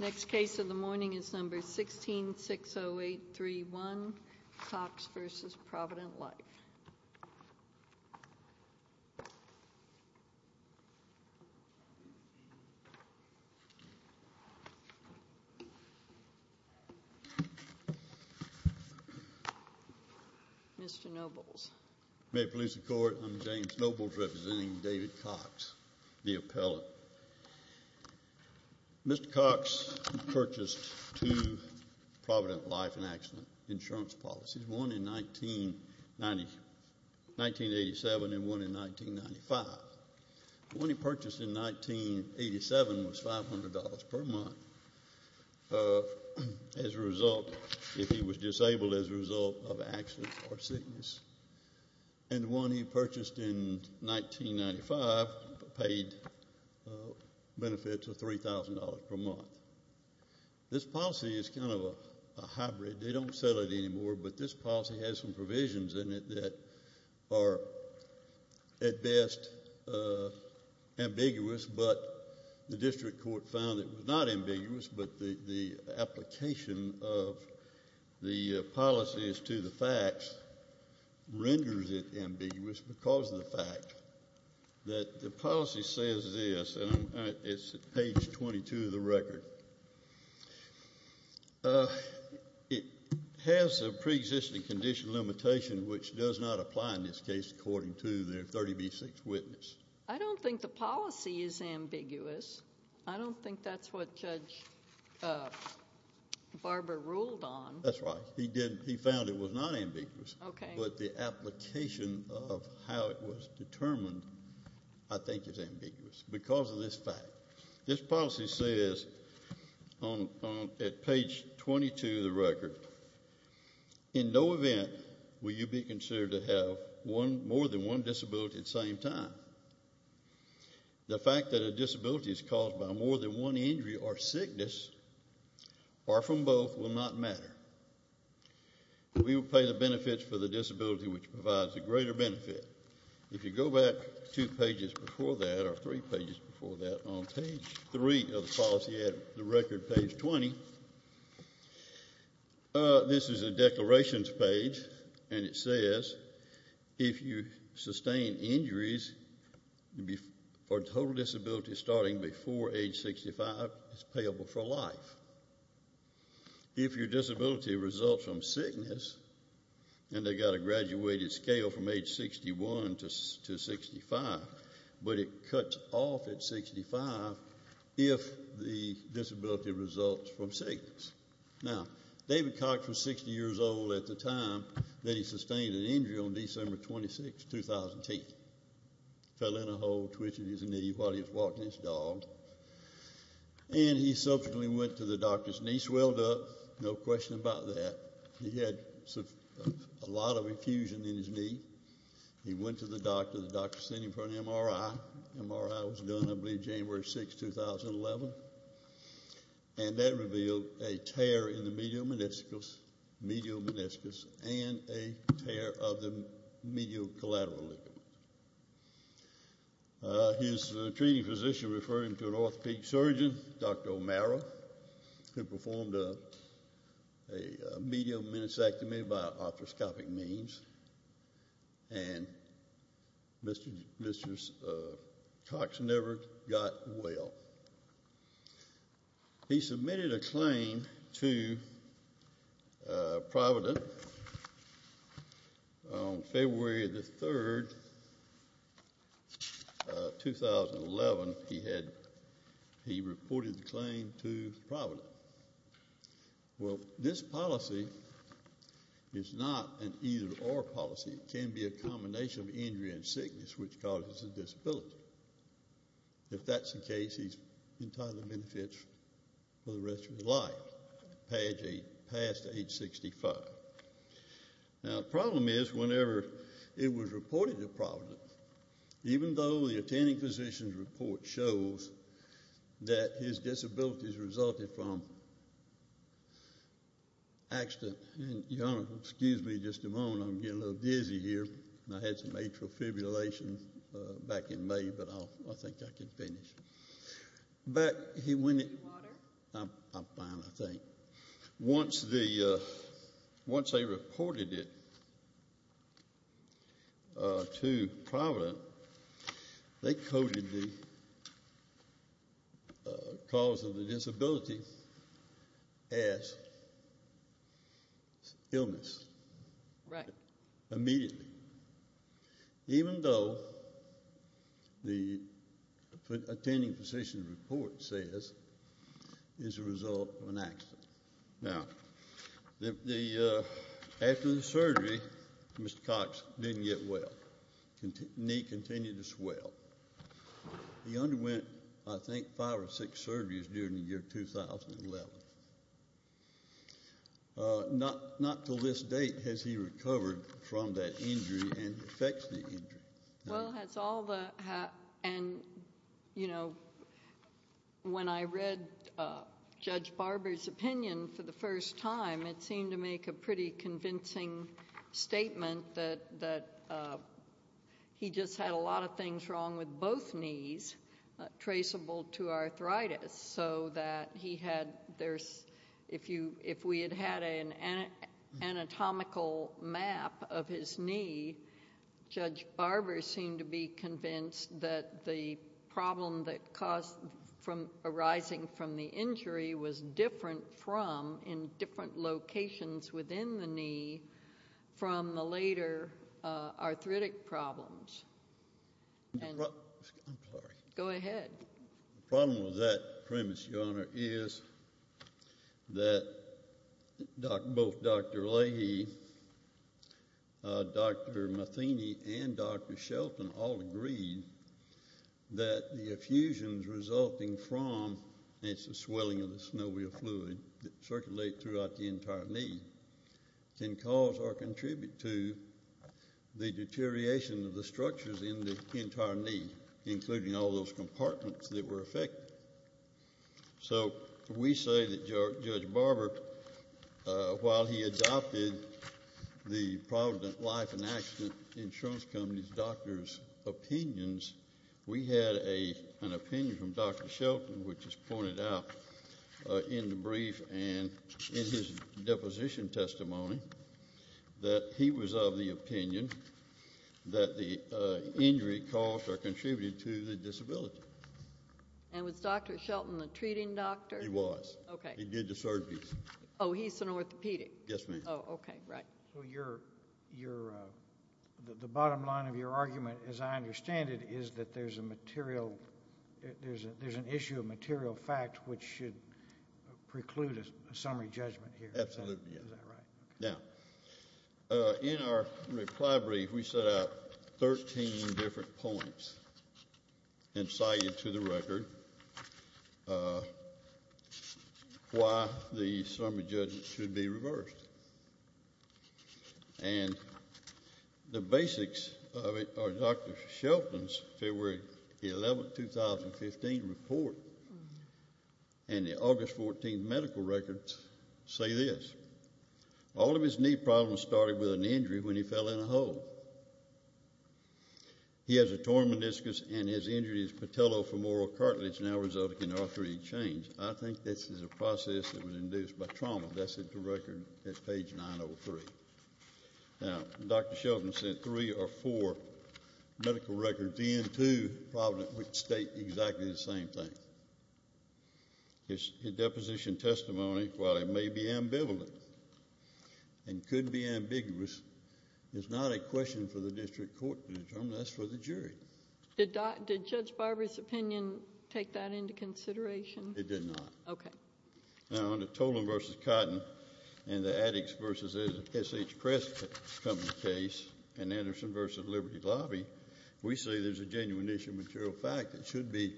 Next case of the morning is number 1660831, Cox v. Provident Life & Acidnt Ins Co. Mr. Nobles. May it please the court, I'm James Nobles representing David Cox, the appellant. Mr. Cox purchased two Provident Life & Acidnt insurance policies, one in 1987 and one in 1995. The one he purchased in 1987 was $500 per month. As a result, if he was disabled as a result of accident or sickness. And the one he purchased in 1995 paid benefits of $3,000 per month. This policy is kind of a hybrid, they don't sell it anymore but this policy has some provisions in it that are at best ambiguous, but the district court found it was not ambiguous but the application of the policies to the facts renders it ambiguous because of the fact that the policy says this, and it's page 22 of the record, it has a preexisting condition limitation which does not apply in this case according to the 30B6 witness. I don't think the policy is ambiguous. I don't think that's what Judge Barber ruled on. That's right. He found it was not ambiguous but the application of how it was determined I think is ambiguous because of this fact. This policy says at page 22 of the record, in no event will you be considered to have more than one disability at the same time. The fact that a disability is caused by more than one injury or sickness or from both will not matter. We will pay the benefits for the disability which provides a greater benefit. If you go back two pages before that or three pages before that on page three of the policy at the record, page 20, this is a declarations page and it says if you sustain injuries for total disability starting before age 65, it's payable for life. If your disability results from sickness, and they got a graduated scale from age 61 to 65, but it cuts off at 65 if the disability results from sickness. Now, David Cox was 60 years old at the time that he sustained an injury on December 26, 2008. Fell in a hole, twitched his knee while he was walking his dog and he subsequently went to the doctor. His knee swelled up, no question about that. He had a lot of infusion in his knee. He went to the doctor. The doctor sent him for an MRI. MRI was done I believe January 6, 2011 and that revealed a tear in the medial meniscus and a tear of the medial collateral lipid. His treating physician referred him to an orthopedic surgeon, Dr. O'Mara, who performed a medial meniscectomy by arthroscopic means and Mr. Cox never got well. He submitted a claim to Providence on February 3, 2011. He reported the claim to Providence. Well, this policy is not an either-or policy. It can be a combination of injury and sickness which causes a disability. If that's the case, he's entirely benefits for the rest of his life. Page 8, passed at age 65. Now, the problem is whenever it was reported to Providence, even though the attending physician's report shows that his disabilities resulted from accident. Your Honor, excuse me just a moment. I'm getting a little dizzy here. I had some atrial fibrillation back in May, but I think I can finish. Back when it- Do you need water? I'm fine, I think. Once they reported it to Providence, they coded the cause of the disability as illness. Right. Immediately. Even though the attending physician's report says it's a result of an accident. Now, after the surgery, Mr. Cox didn't get well. Knee continued to swell. He underwent, I think, five or six surgeries during the year 2011. Not until this date has he recovered from that injury and affects the injury. Well, that's all the- And, you know, when I read Judge Barber's opinion for the first time, it seemed to make a pretty convincing statement that he just had a lot of things wrong with both knees traceable to arthritis, so that he had- If we had had an anatomical map of his knee, Judge Barber seemed to be convinced that the problem arising from the injury was different from, in different locations within the knee, from the later arthritic problems. And- I'm sorry. Go ahead. The problem with that premise, Your Honor, is that both Dr. Leahy, Dr. Matheny, and Dr. Shelton all agreed that the effusions resulting from, and it's the swelling of the snow wheel fluid that circulates throughout the entire knee, can cause or contribute to the deterioration of the structures in the entire knee, including all those compartments that were affected. So we say that Judge Barber, while he adopted the Provident Life and Accident Insurance Company doctor's opinions, we had an opinion from Dr. Shelton, which is pointed out in the brief, and in his deposition testimony that he was of the opinion that the injury caused or contributed to the disability. And was Dr. Shelton the treating doctor? He was. Okay. He did the surgery. Oh, he's an orthopedic. Yes, ma'am. Oh, okay, right. So you're-the bottom line of your argument, as I understand it, is that there's a material-there's an issue of material fact which should preclude a summary judgment here. Absolutely, yes. Is that right? Yeah. In our reply brief, we set out 13 different points inciting to the record why the summary judgment should be reversed. And the basics of it are Dr. Shelton's February 11, 2015 report and the August 14 medical record say this. All of his knee problems started with an injury when he fell in a hole. He has a torn meniscus and his injury is patellofemoral cartilage now resulting in arthritic change. I think this is a process that was induced by trauma. That's at the record at page 903. Now, Dr. Shelton sent three or four medical records in, two probably state exactly the same thing. His deposition testimony, while it may be ambivalent and could be ambiguous, is not a question for the district court to determine. That's for the jury. Did Judge Barber's opinion take that into consideration? It did not. Okay. Now, under Tolan v. Cotton and the Addix v. SH Press Company case and Anderson v. Liberty Lobby, we say there's a genuine issue of material fact that should be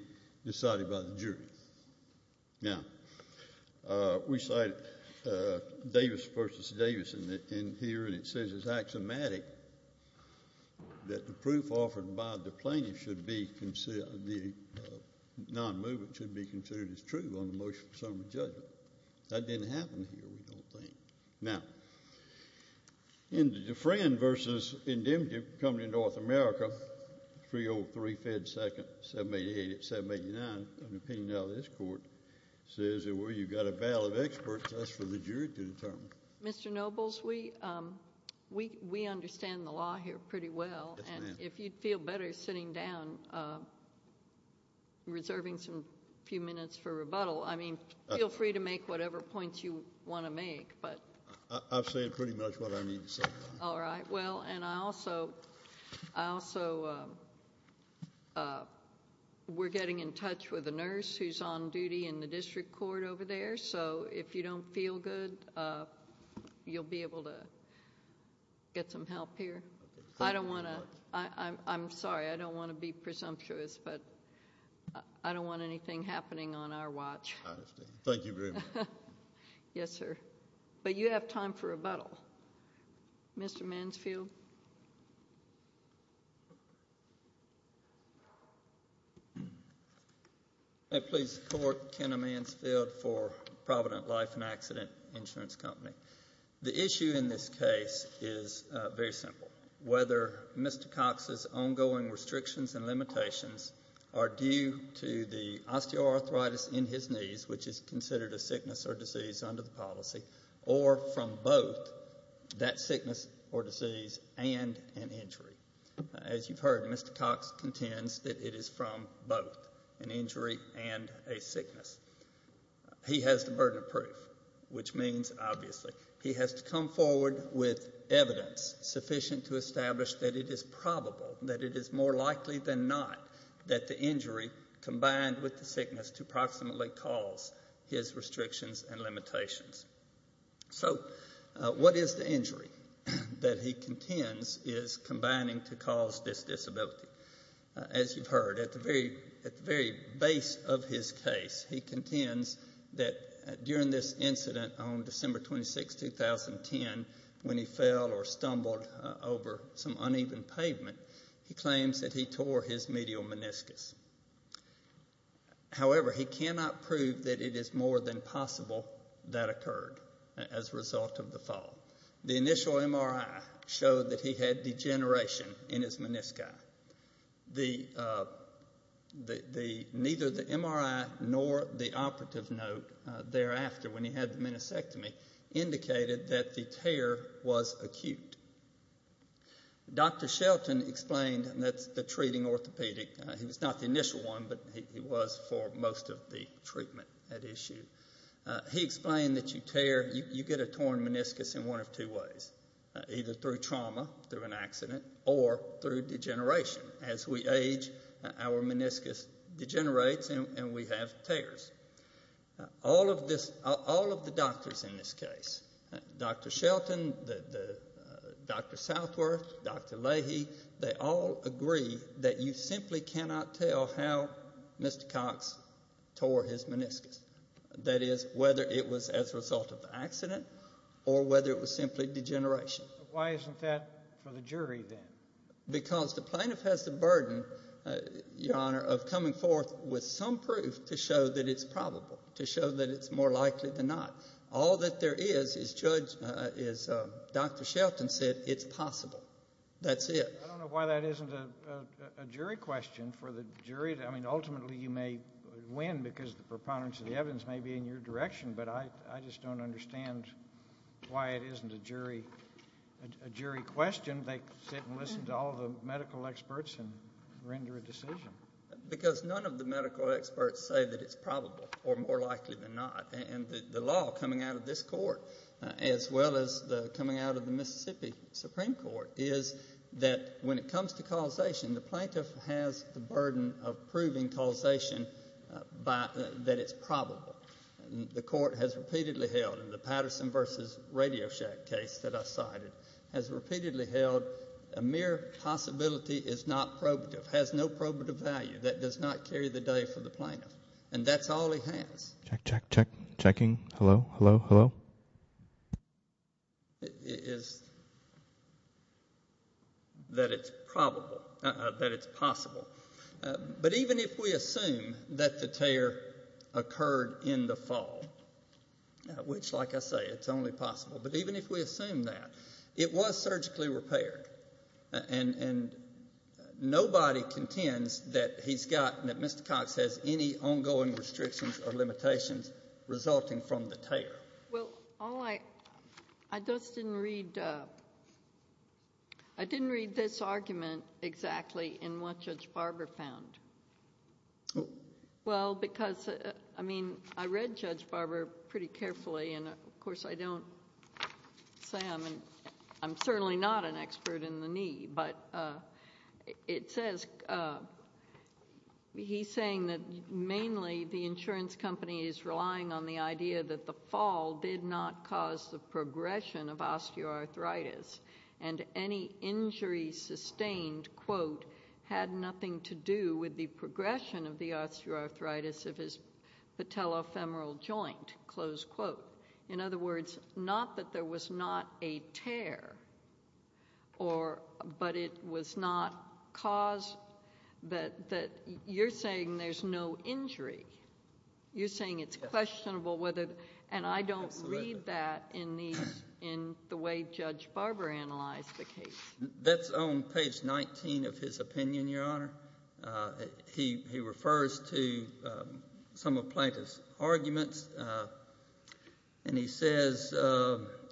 decided by the jury. Now, we cite Davis v. Davis in here, and it says it's axiomatic that the proof offered by the plaintiff should be considered, that the non-movement should be considered as true on the motion for summary judgment. That didn't happen here, we don't think. Now, in the Dufresne v. Indemnity Company of North America, 303-Fed 2nd, 788-789, an opinion of this court says that where you've got a valid expert, that's for the jury to determine. Mr. Nobles, we understand the law here pretty well. Yes, ma'am. If you'd feel better sitting down, reserving a few minutes for rebuttal. I mean, feel free to make whatever points you want to make, but... I've said pretty much what I need to say. All right. Well, and I also... We're getting in touch with a nurse who's on duty in the district court over there, so if you don't feel good, you'll be able to get some help here. I don't want to... I'm sorry. I don't want to be presumptuous, but I don't want anything happening on our watch. I understand. Thank you very much. Yes, sir. But you have time for rebuttal. Mr. Mansfield? May I please support Kenna Mansfield for Provident Life and Accident Insurance Company? The issue in this case is very simple. Whether Mr. Cox's ongoing restrictions and limitations are due to the osteoarthritis in his knees, which is considered a sickness or disease under the policy, or from both that sickness or disease and an injury. As you've heard, Mr. Cox contends that it is from both an injury and a sickness. He has the burden of proof, which means, obviously, he has to come forward with evidence sufficient to establish that it is probable, that it is more likely than not that the injury combined with the sickness to approximately cause his restrictions and limitations. So what is the injury that he contends is combining to cause this disability? As you've heard, at the very base of his case, he contends that during this incident on December 26, 2010, when he fell or stumbled over some uneven pavement, he claims that he tore his medial meniscus. However, he cannot prove that it is more than possible that occurred as a result of the fall. The initial MRI showed that he had degeneration in his menisci. Neither the MRI nor the operative note thereafter, when he had the meniscectomy, indicated that the tear was acute. Dr. Shelton explained that the treating orthopedic, he was not the initial one, but he was for most of the treatment at issue, he explained that you tear, you get a torn meniscus in one of two ways, either through trauma, through an accident, or through degeneration. As we age, our meniscus degenerates and we have tears. All of the doctors in this case, Dr. Shelton, Dr. Southworth, Dr. Leahy, they all agree that you simply cannot tell how Mr. Cox tore his meniscus. That is, whether it was as a result of the accident or whether it was simply degeneration. Why isn't that for the jury then? Because the plaintiff has the burden, Your Honor, of coming forth with some proof to show that it's probable, to show that it's more likely than not. All that there is, as Judge, as Dr. Shelton said, it's possible. That's it. I don't know why that isn't a jury question for the jury. I mean, ultimately you may win because the preponderance of the evidence may be in your direction, but I just don't understand why it isn't a jury question. They sit and listen to all the medical experts and render a decision. Because none of the medical experts say that it's probable or more likely than not. And the law coming out of this court, as well as coming out of the Mississippi Supreme Court, is that when it comes to causation, the plaintiff has the burden of proving causation that it's probable. The court has repeatedly held, in the Patterson v. Radio Shack case that I cited, has repeatedly held a mere possibility is not probative, has no probative value that does not carry the day for the plaintiff. And that's all he has. Check, check, check, checking, hello, hello, hello. Is that it's probable, that it's possible. But even if we assume that the tear occurred in the fall, which, like I say, it's only possible, but even if we assume that, it was surgically repaired, and nobody contends that he's got, that Mr. Cox has any ongoing restrictions or limitations resulting from the tear. Well, all I, I just didn't read, I didn't read this argument exactly in what Judge Barber found. Well, because, I mean, I read Judge Barber pretty carefully, and of course I don't say I'm, I'm certainly not an expert in the knee, but it says, he's saying that mainly the insurance company is relying on the idea that the fall did not cause the progression of osteoarthritis, and any injury sustained, quote, in other words, not that there was not a tear, or, but it was not caused, that, that you're saying there's no injury. You're saying it's questionable whether, and I don't read that in these, in the way Judge Barber analyzed the case. That's on page 19 of his opinion, Your Honor. He, he refers to some of Plaintiff's arguments, and he says,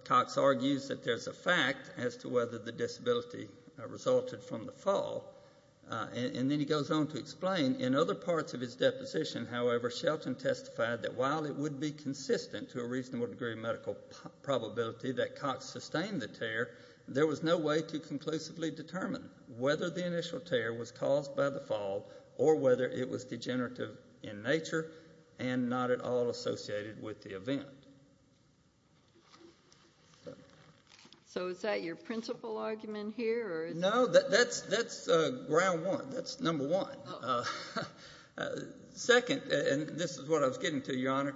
Cox argues that there's a fact as to whether the disability resulted from the fall, and then he goes on to explain, in other parts of his deposition, however, Shelton testified that while it would be consistent to a reasonable degree of medical probability that Cox sustained the tear, there was no way to conclusively determine whether the initial tear was caused by the fall or whether it was degenerative in nature and not at all associated with the event. So is that your principal argument here, or is it? No, that, that's, that's ground one. That's number one. Second, and this is what I was getting to, Your Honor,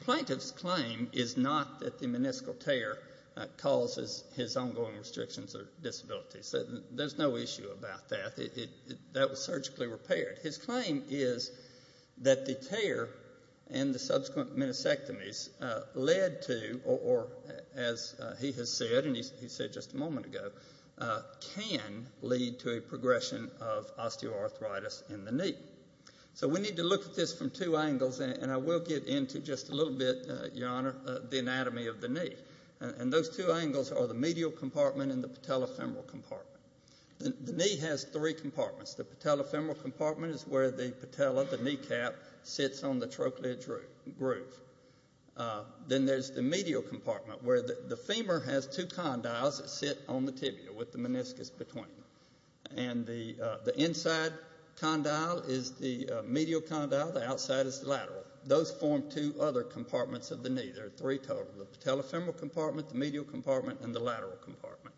Plaintiff's claim is not that the meniscal tear causes his ongoing restrictions or disabilities. There's no issue about that. That was surgically repaired. His claim is that the tear and the subsequent meniscectomies led to, or as he has said, and he said just a moment ago, can lead to a progression of osteoarthritis in the knee. So we need to look at this from two angles, and I will get into just a little bit, Your Honor, the anatomy of the knee. And those two angles are the medial compartment and the patellofemoral compartment. The knee has three compartments. The patellofemoral compartment is where the patella, the kneecap, sits on the trochlear groove. Then there's the medial compartment where the femur has two condyles that sit on the tibia with the meniscus between them. And the inside condyle is the medial condyle. The outside is the lateral. Those form two other compartments of the knee. There are three total, the patellofemoral compartment, the medial compartment, and the lateral compartment.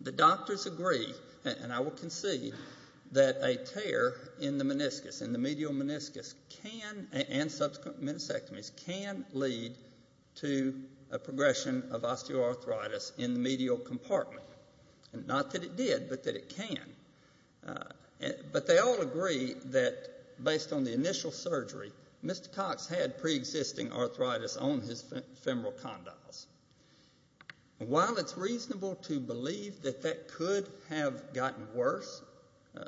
The doctors agree, and I will concede, that a tear in the meniscus, in the medial meniscus, can, and subsequent meniscectomies, can lead to a progression of osteoarthritis in the medial compartment. Not that it did, but that it can. But they all agree that, based on the initial surgery, Mr. Cox had preexisting arthritis on his femoral condyles. While it's reasonable to believe that that could have gotten worse,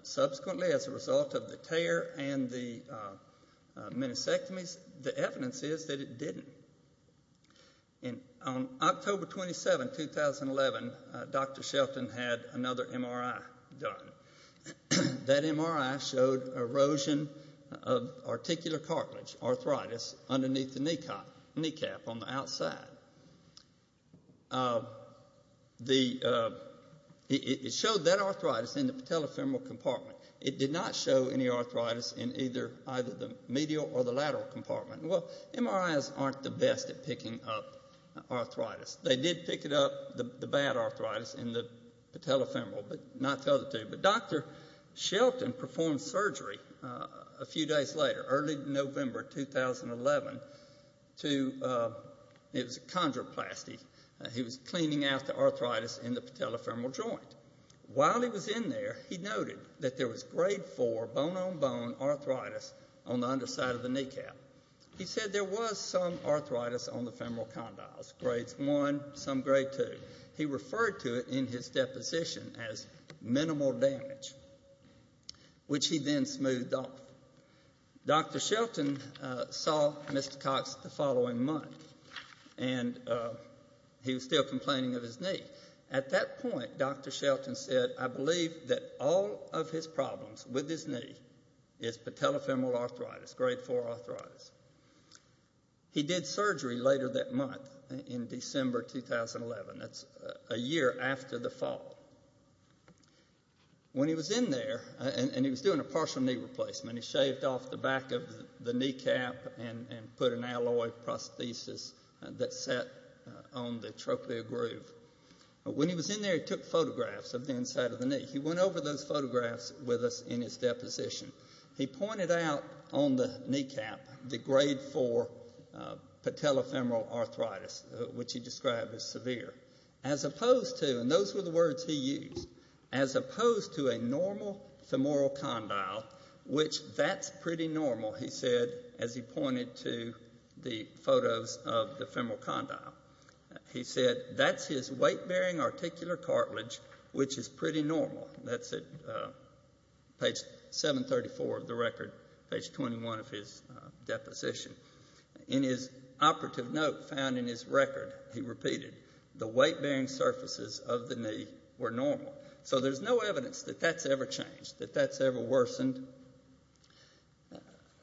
subsequently as a result of the tear and the meniscectomies, the evidence is that it didn't. On October 27, 2011, Dr. Shelton had another MRI done. That MRI showed erosion of articular cartilage, arthritis, underneath the kneecap on the outside. It showed that arthritis in the patellofemoral compartment. It did not show any arthritis in either the medial or the lateral compartment. Well, MRIs aren't the best at picking up arthritis. They did pick up the bad arthritis in the patellofemoral, but not the other two. But Dr. Shelton performed surgery a few days later, early November 2011. It was a chondroplasty. He was cleaning out the arthritis in the patellofemoral joint. While he was in there, he noted that there was grade 4 bone-on-bone arthritis on the underside of the kneecap. He said there was some arthritis on the femoral condyles, grades 1, some grade 2. He referred to it in his deposition as minimal damage, which he then smoothed off. Dr. Shelton saw Mr. Cox the following month, and he was still complaining of his knee. At that point, Dr. Shelton said, I believe that all of his problems with his knee is patellofemoral arthritis, grade 4 arthritis. He did surgery later that month in December 2011. That's a year after the fall. When he was in there, and he was doing a partial knee replacement, he shaved off the back of the kneecap and put an alloy prosthesis that sat on the trochlear groove. When he was in there, he took photographs of the inside of the knee. He went over those photographs with us in his deposition. He pointed out on the kneecap the grade 4 patellofemoral arthritis, which he described as severe, as opposed to, and those were the words he used, as opposed to a normal femoral condyle, which that's pretty normal, he said, as he pointed to the photos of the femoral condyle. He said that's his weight-bearing articular cartilage, which is pretty normal. That's at page 734 of the record, page 21 of his deposition. In his operative note found in his record, he repeated, the weight-bearing surfaces of the knee were normal. So there's no evidence that that's ever changed, that that's ever worsened.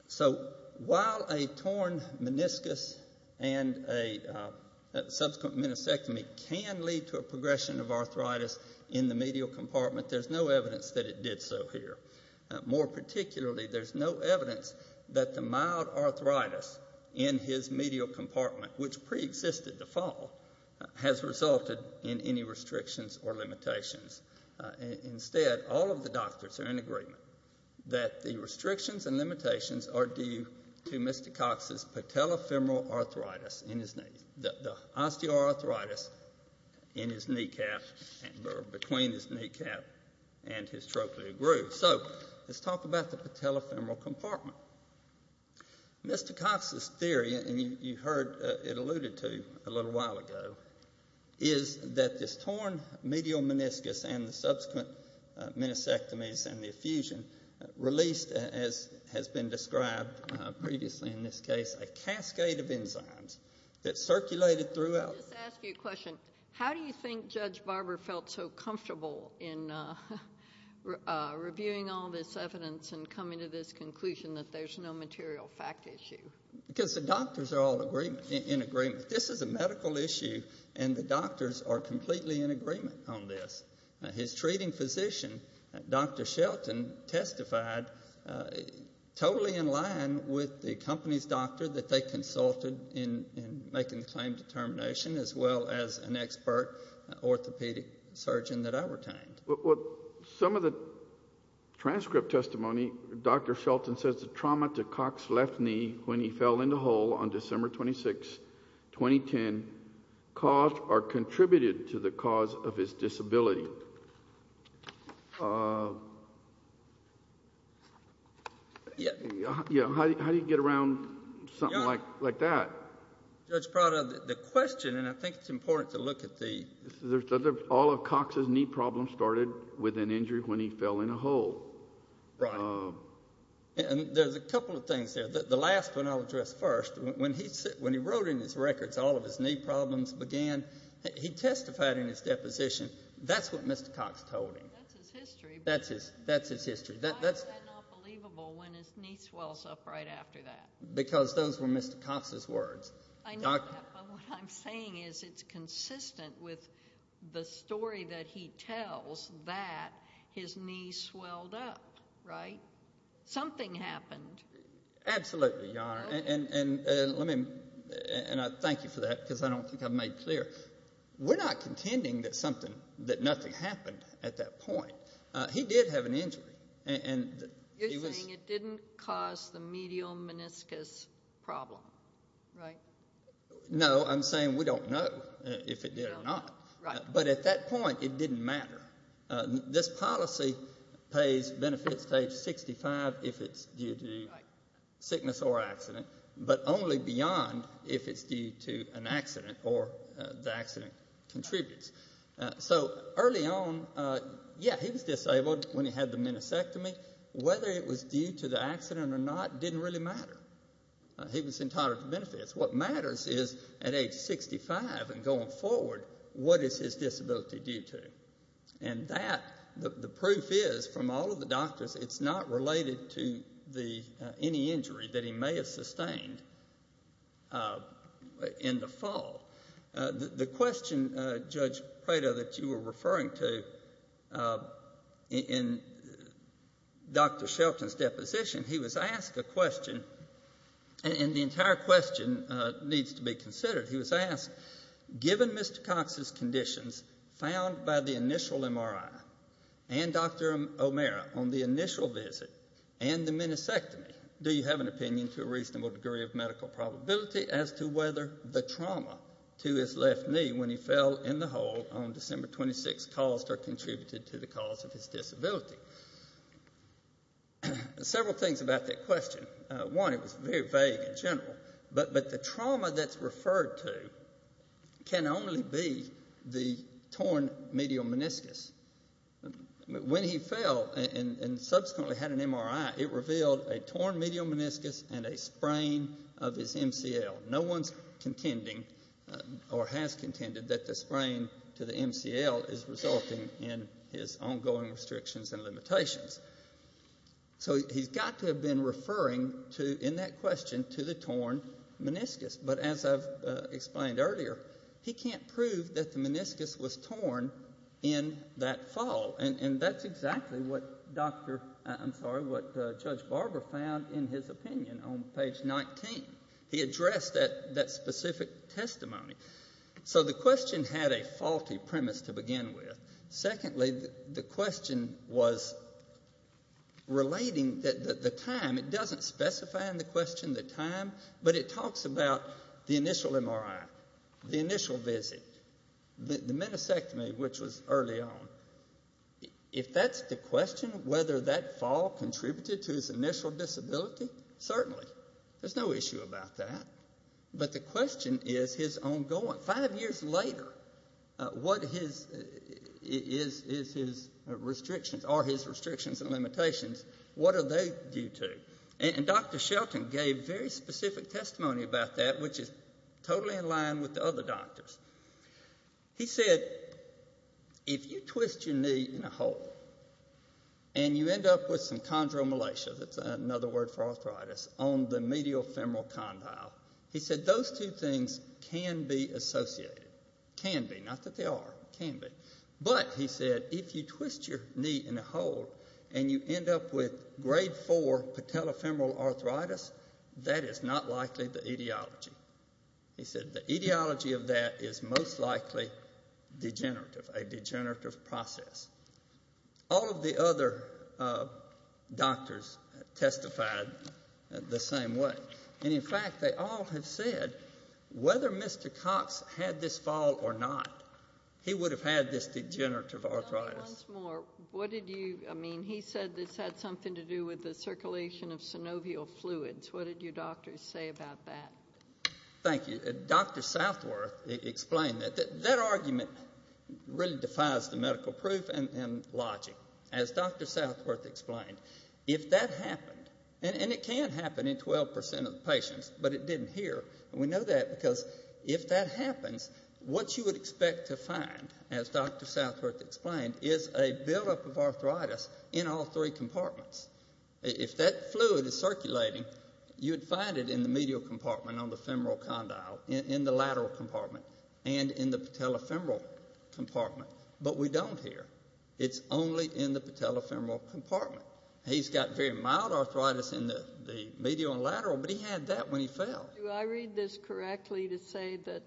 So while a torn meniscus and a subsequent meniscectomy can lead to a progression of arthritis in the medial compartment, there's no evidence that it did so here. More particularly, there's no evidence that the mild arthritis in his medial compartment, which preexisted the fall, has resulted in any restrictions or limitations. Instead, all of the doctors are in agreement that the restrictions and limitations are due to Mr. Cox's patellofemoral arthritis in his knee, the osteoarthritis in his kneecap, or between his kneecap and his trochlear groove. So let's talk about the patellofemoral compartment. Mr. Cox's theory, and you heard it alluded to a little while ago, is that this torn medial meniscus and the subsequent meniscectomies and the effusion released, as has been described previously in this case, a cascade of enzymes that circulated throughout. Let me just ask you a question. How do you think Judge Barber felt so comfortable in reviewing all this evidence and coming to this conclusion that there's no material fact issue? Because the doctors are all in agreement. This is a medical issue, and the doctors are completely in agreement on this. His treating physician, Dr. Shelton, testified totally in line with the company's doctor that they consulted in making the claim determination, as well as an expert orthopedic surgeon that I retained. Some of the transcript testimony, Dr. Shelton says the trauma to Cox's left knee when he fell in the hole on December 26, 2010, caused or contributed to the cause of his disability. How do you get around something like that? Judge Prado, the question, and I think it's important to look at the... All of Cox's knee problems started with an injury when he fell in a hole. Right. There's a couple of things there. The last one I'll address first, when he wrote in his records all of his knee problems began, he testified in his deposition, that's what Mr. Cox told him. That's his history. That's his history. Why is that not believable when his knee swells up right after that? Because those were Mr. Cox's words. What I'm saying is it's consistent with the story that he tells that his knee swelled up, right? Something happened. Absolutely, Your Honor, and I thank you for that because I don't think I've made it clear. We're not contending that nothing happened at that point. He did have an injury. You're saying it didn't cause the medial meniscus problem, right? No, I'm saying we don't know if it did or not. But at that point it didn't matter. This policy pays benefits to age 65 if it's due to sickness or accident, but only beyond if it's due to an accident or the accident contributes. So early on, yeah, he was disabled when he had the meniscectomy. Whether it was due to the accident or not didn't really matter. He was entitled to benefits. What matters is at age 65 and going forward, what is his disability due to? And that, the proof is from all of the doctors, it's not related to any injury that he may have sustained in the fall. The question, Judge Prado, that you were referring to in Dr. Shelton's deposition, he was asked a question and the entire question needs to be considered. He was asked, given Mr. Cox's conditions found by the initial MRI and Dr. O'Meara on the initial visit and the meniscectomy, do you have an opinion to a reasonable degree of medical probability as to whether the trauma to his left knee when he fell in the hole on December 26th caused or contributed to the cause of his disability? Several things about that question. One, it was very vague in general, but the trauma that's referred to can only be the torn medial meniscus. When he fell and subsequently had an MRI, it revealed a torn medial meniscus and a sprain of his MCL. No one's contending or has contended that the sprain to the MCL is resulting in his ongoing restrictions and limitations. So he's got to have been referring in that question to the torn meniscus. But as I've explained earlier, he can't prove that the meniscus was torn in that fall. And that's exactly what Judge Barber found in his opinion on page 19. He addressed that specific testimony. So the question had a faulty premise to begin with. Secondly, the question was relating the time. It doesn't specify in the question the time, but it talks about the initial MRI, the initial visit, the meniscectomy, which was early on. If that's the question, whether that fall contributed to his initial disability, certainly. There's no issue about that. But the question is his ongoing. Five years later, what is his restrictions or his restrictions and limitations? What are they due to? And Dr. Shelton gave very specific testimony about that, which is totally in line with the other doctors. He said, if you twist your knee in a hole and you end up with some chondromalacia, that's another word for arthritis, on the medial femoral condyle, he said those two things can be associated. Can be. Not that they are. Can be. But, he said, if you twist your knee in a hole and you end up with grade 4 patellofemoral arthritis, that is not likely the etiology. He said the etiology of that is most likely degenerative, a degenerative process. All of the other doctors testified the same way. And, in fact, they all have said, whether Mr. Cox had this fall or not, he would have had this degenerative arthritis. Once more, what did you, I mean, he said this had something to do with the circulation of synovial fluids. What did you doctors say about that? Thank you. Dr. Southworth explained that. That argument really defies the medical proof and logic. As Dr. Southworth explained, if that happened, and it can happen in 12% of the patients, but it didn't here, and we know that because if that happens, what you would expect to find, as Dr. Southworth explained, is a buildup of arthritis in all three compartments. If that fluid is circulating, you would find it in the medial compartment on the femoral condyle, in the lateral compartment, and in the patellofemoral compartment. But we don't here. It's only in the patellofemoral compartment. He's got very mild arthritis in the medial and lateral, but he had that when he fell. Do I read this correctly to say that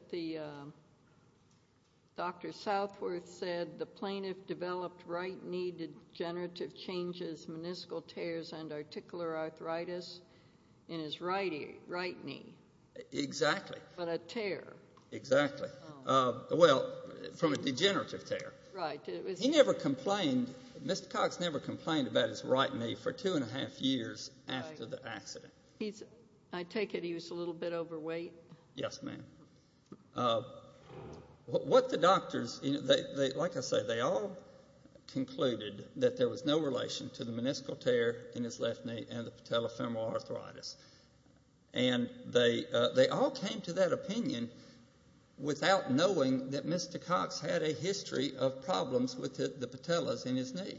Dr. Southworth said the plaintiff developed right knee degenerative changes, meniscal tears, and articular arthritis in his right knee? Exactly. But a tear. Exactly. Well, from a degenerative tear. Right. He never complained. Mr. Cox never complained about his right knee for two and a half years after the accident. I take it he was a little bit overweight. Yes, ma'am. What the doctors, like I say, they all concluded that there was no relation to the meniscal tear in his left knee and the patellofemoral arthritis. And they all came to that opinion without knowing that Mr. Cox had a history of problems with the patellas in his knee.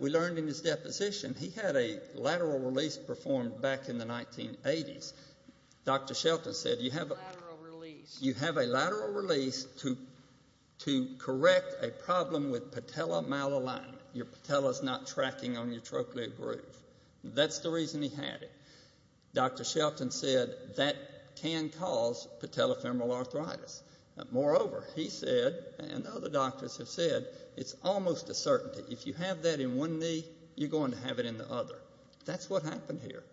We learned in his deposition he had a lateral release performed back in the 1980s. Dr. Shelton said you have a lateral release. You have a lateral release to correct a problem with patella malalignment. Your patella's not tracking on your trochlear groove. That's the reason he had it. Dr. Shelton said that can cause patellofemoral arthritis. Moreover, he said, and other doctors have said, it's almost a certainty. If you have that in one knee, you're going to have it in the other. That's what happened here.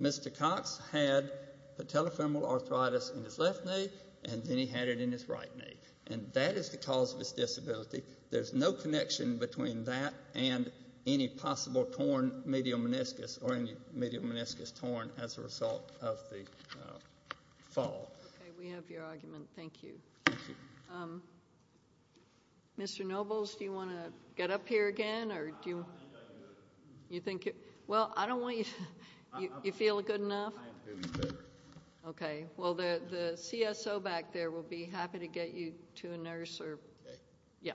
Mr. Cox had patellofemoral arthritis in his left knee, and then he had it in his right knee. And that is the cause of his disability. There's no connection between that and any possible torn medial meniscus or any medial meniscus torn as a result of the fall. Okay, we have your argument. Thank you. Thank you. Mr. Nobles, do you want to get up here again? I don't think I do. Well, I don't want you to. You feel good enough? I am feeling better. Okay. Well, the CSO back there will be happy to get you to a nurse. Okay. Yeah.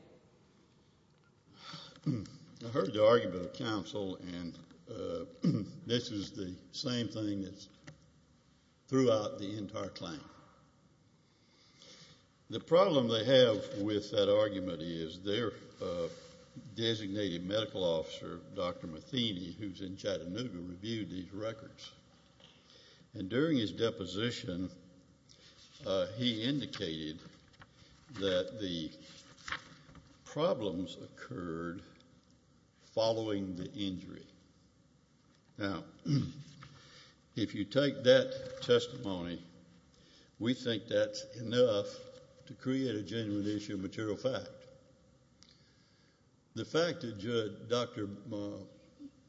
I heard the argument of counsel, and this is the same thing that's throughout the entire claim. The problem they have with that argument is their designated medical officer, Dr. Matheny, who's in Chattanooga, reviewed these records. And during his deposition, he indicated that the problems occurred following the injury. Now, if you take that testimony, we think that's enough to create a genuine issue of material fact. The fact that Dr.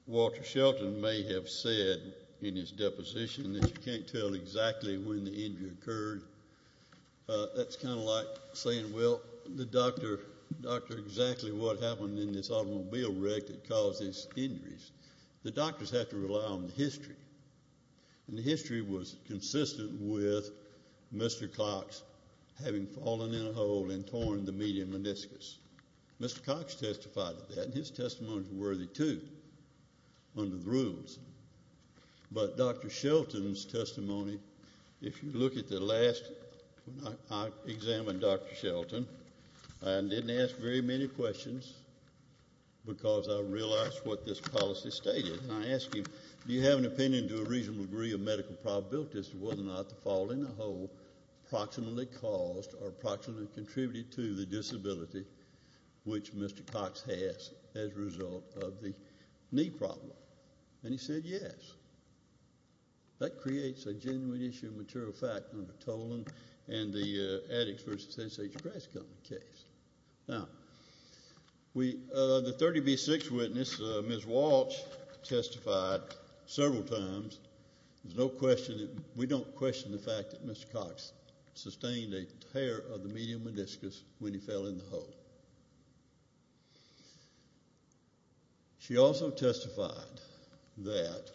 Walter Shelton may have said in his deposition that you can't tell exactly when the injury occurred, that's kind of like saying, well, exactly what happened in this automobile wreck that caused these injuries. The doctors have to rely on the history, and the history was consistent with Mr. Cox having fallen in a hole and torn the median meniscus. Mr. Cox testified to that, and his testimony is worthy, too, under the rules. But Dr. Shelton's testimony, if you look at the last, when I examined Dr. Shelton, I didn't ask very many questions because I realized what this policy stated. And I asked him, do you have an opinion to a reasonable degree of medical probability as to whether or not the fall in a hole approximately caused or approximately contributed to the disability which Mr. Cox has as a result of the knee problem? And he said yes. That creates a genuine issue of material fact under Tolan and the Addix v. St. Sage Grass Company case. Now, the 30B6 witness, Ms. Walsh, testified several times. We don't question the fact that Mr. Cox sustained a tear of the median meniscus when he fell in the hole. She also testified that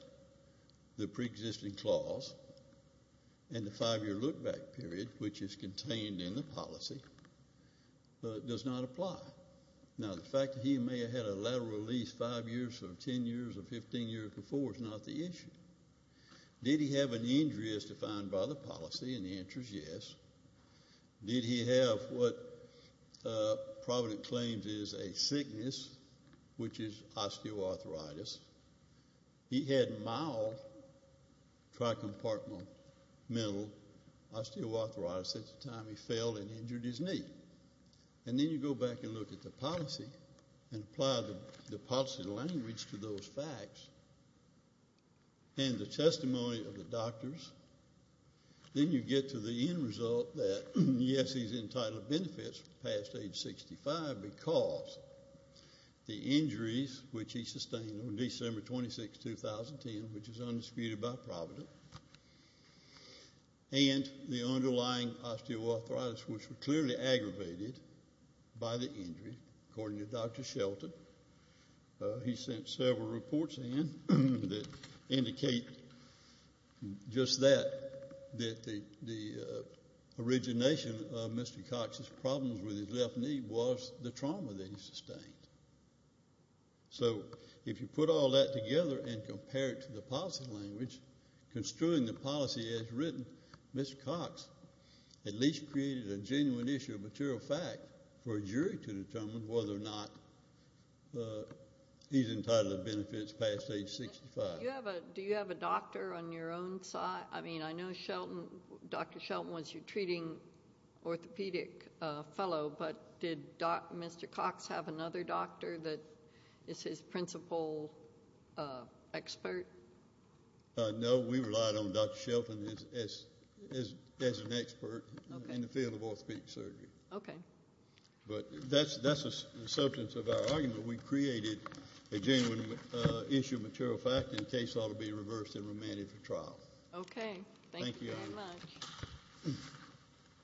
the preexisting clause and the five-year look-back period, which is contained in the policy, does not apply. Now, the fact that he may have had a lateral release five years or 10 years or 15 years before is not the issue. Did he have an injury as defined by the policy? And the answer is yes. Did he have what Provident claims is a sickness, which is osteoarthritis? He had mild tricompartmental osteoarthritis at the time he fell and injured his knee. And then you go back and look at the policy and apply the policy language to those facts and the testimony of the doctors. Then you get to the end result that, yes, he's entitled benefits past age 65 because the injuries, which he sustained on December 26, 2010, which is undisputed by Provident, and the underlying osteoarthritis, which were clearly aggravated by the injury, according to Dr. Shelton. He sent several reports in that indicate just that, that the origination of Mr. Cox's problems with his left knee was the trauma that he sustained. So if you put all that together and compare it to the policy language, construing the policy as written, Mr. Cox at least created a genuine issue of material fact for a jury to determine whether or not he's entitled benefits past age 65. Do you have a doctor on your own side? I mean, I know Dr. Shelton was your treating orthopedic fellow, but did Mr. Cox have another doctor that is his principal expert? No. We relied on Dr. Shelton as an expert in the field of orthopedic surgery. Okay. But that's the substance of our argument. We created a genuine issue of material fact, and the case ought to be reversed and remanded for trial. Okay. Thank you very much. Thank you.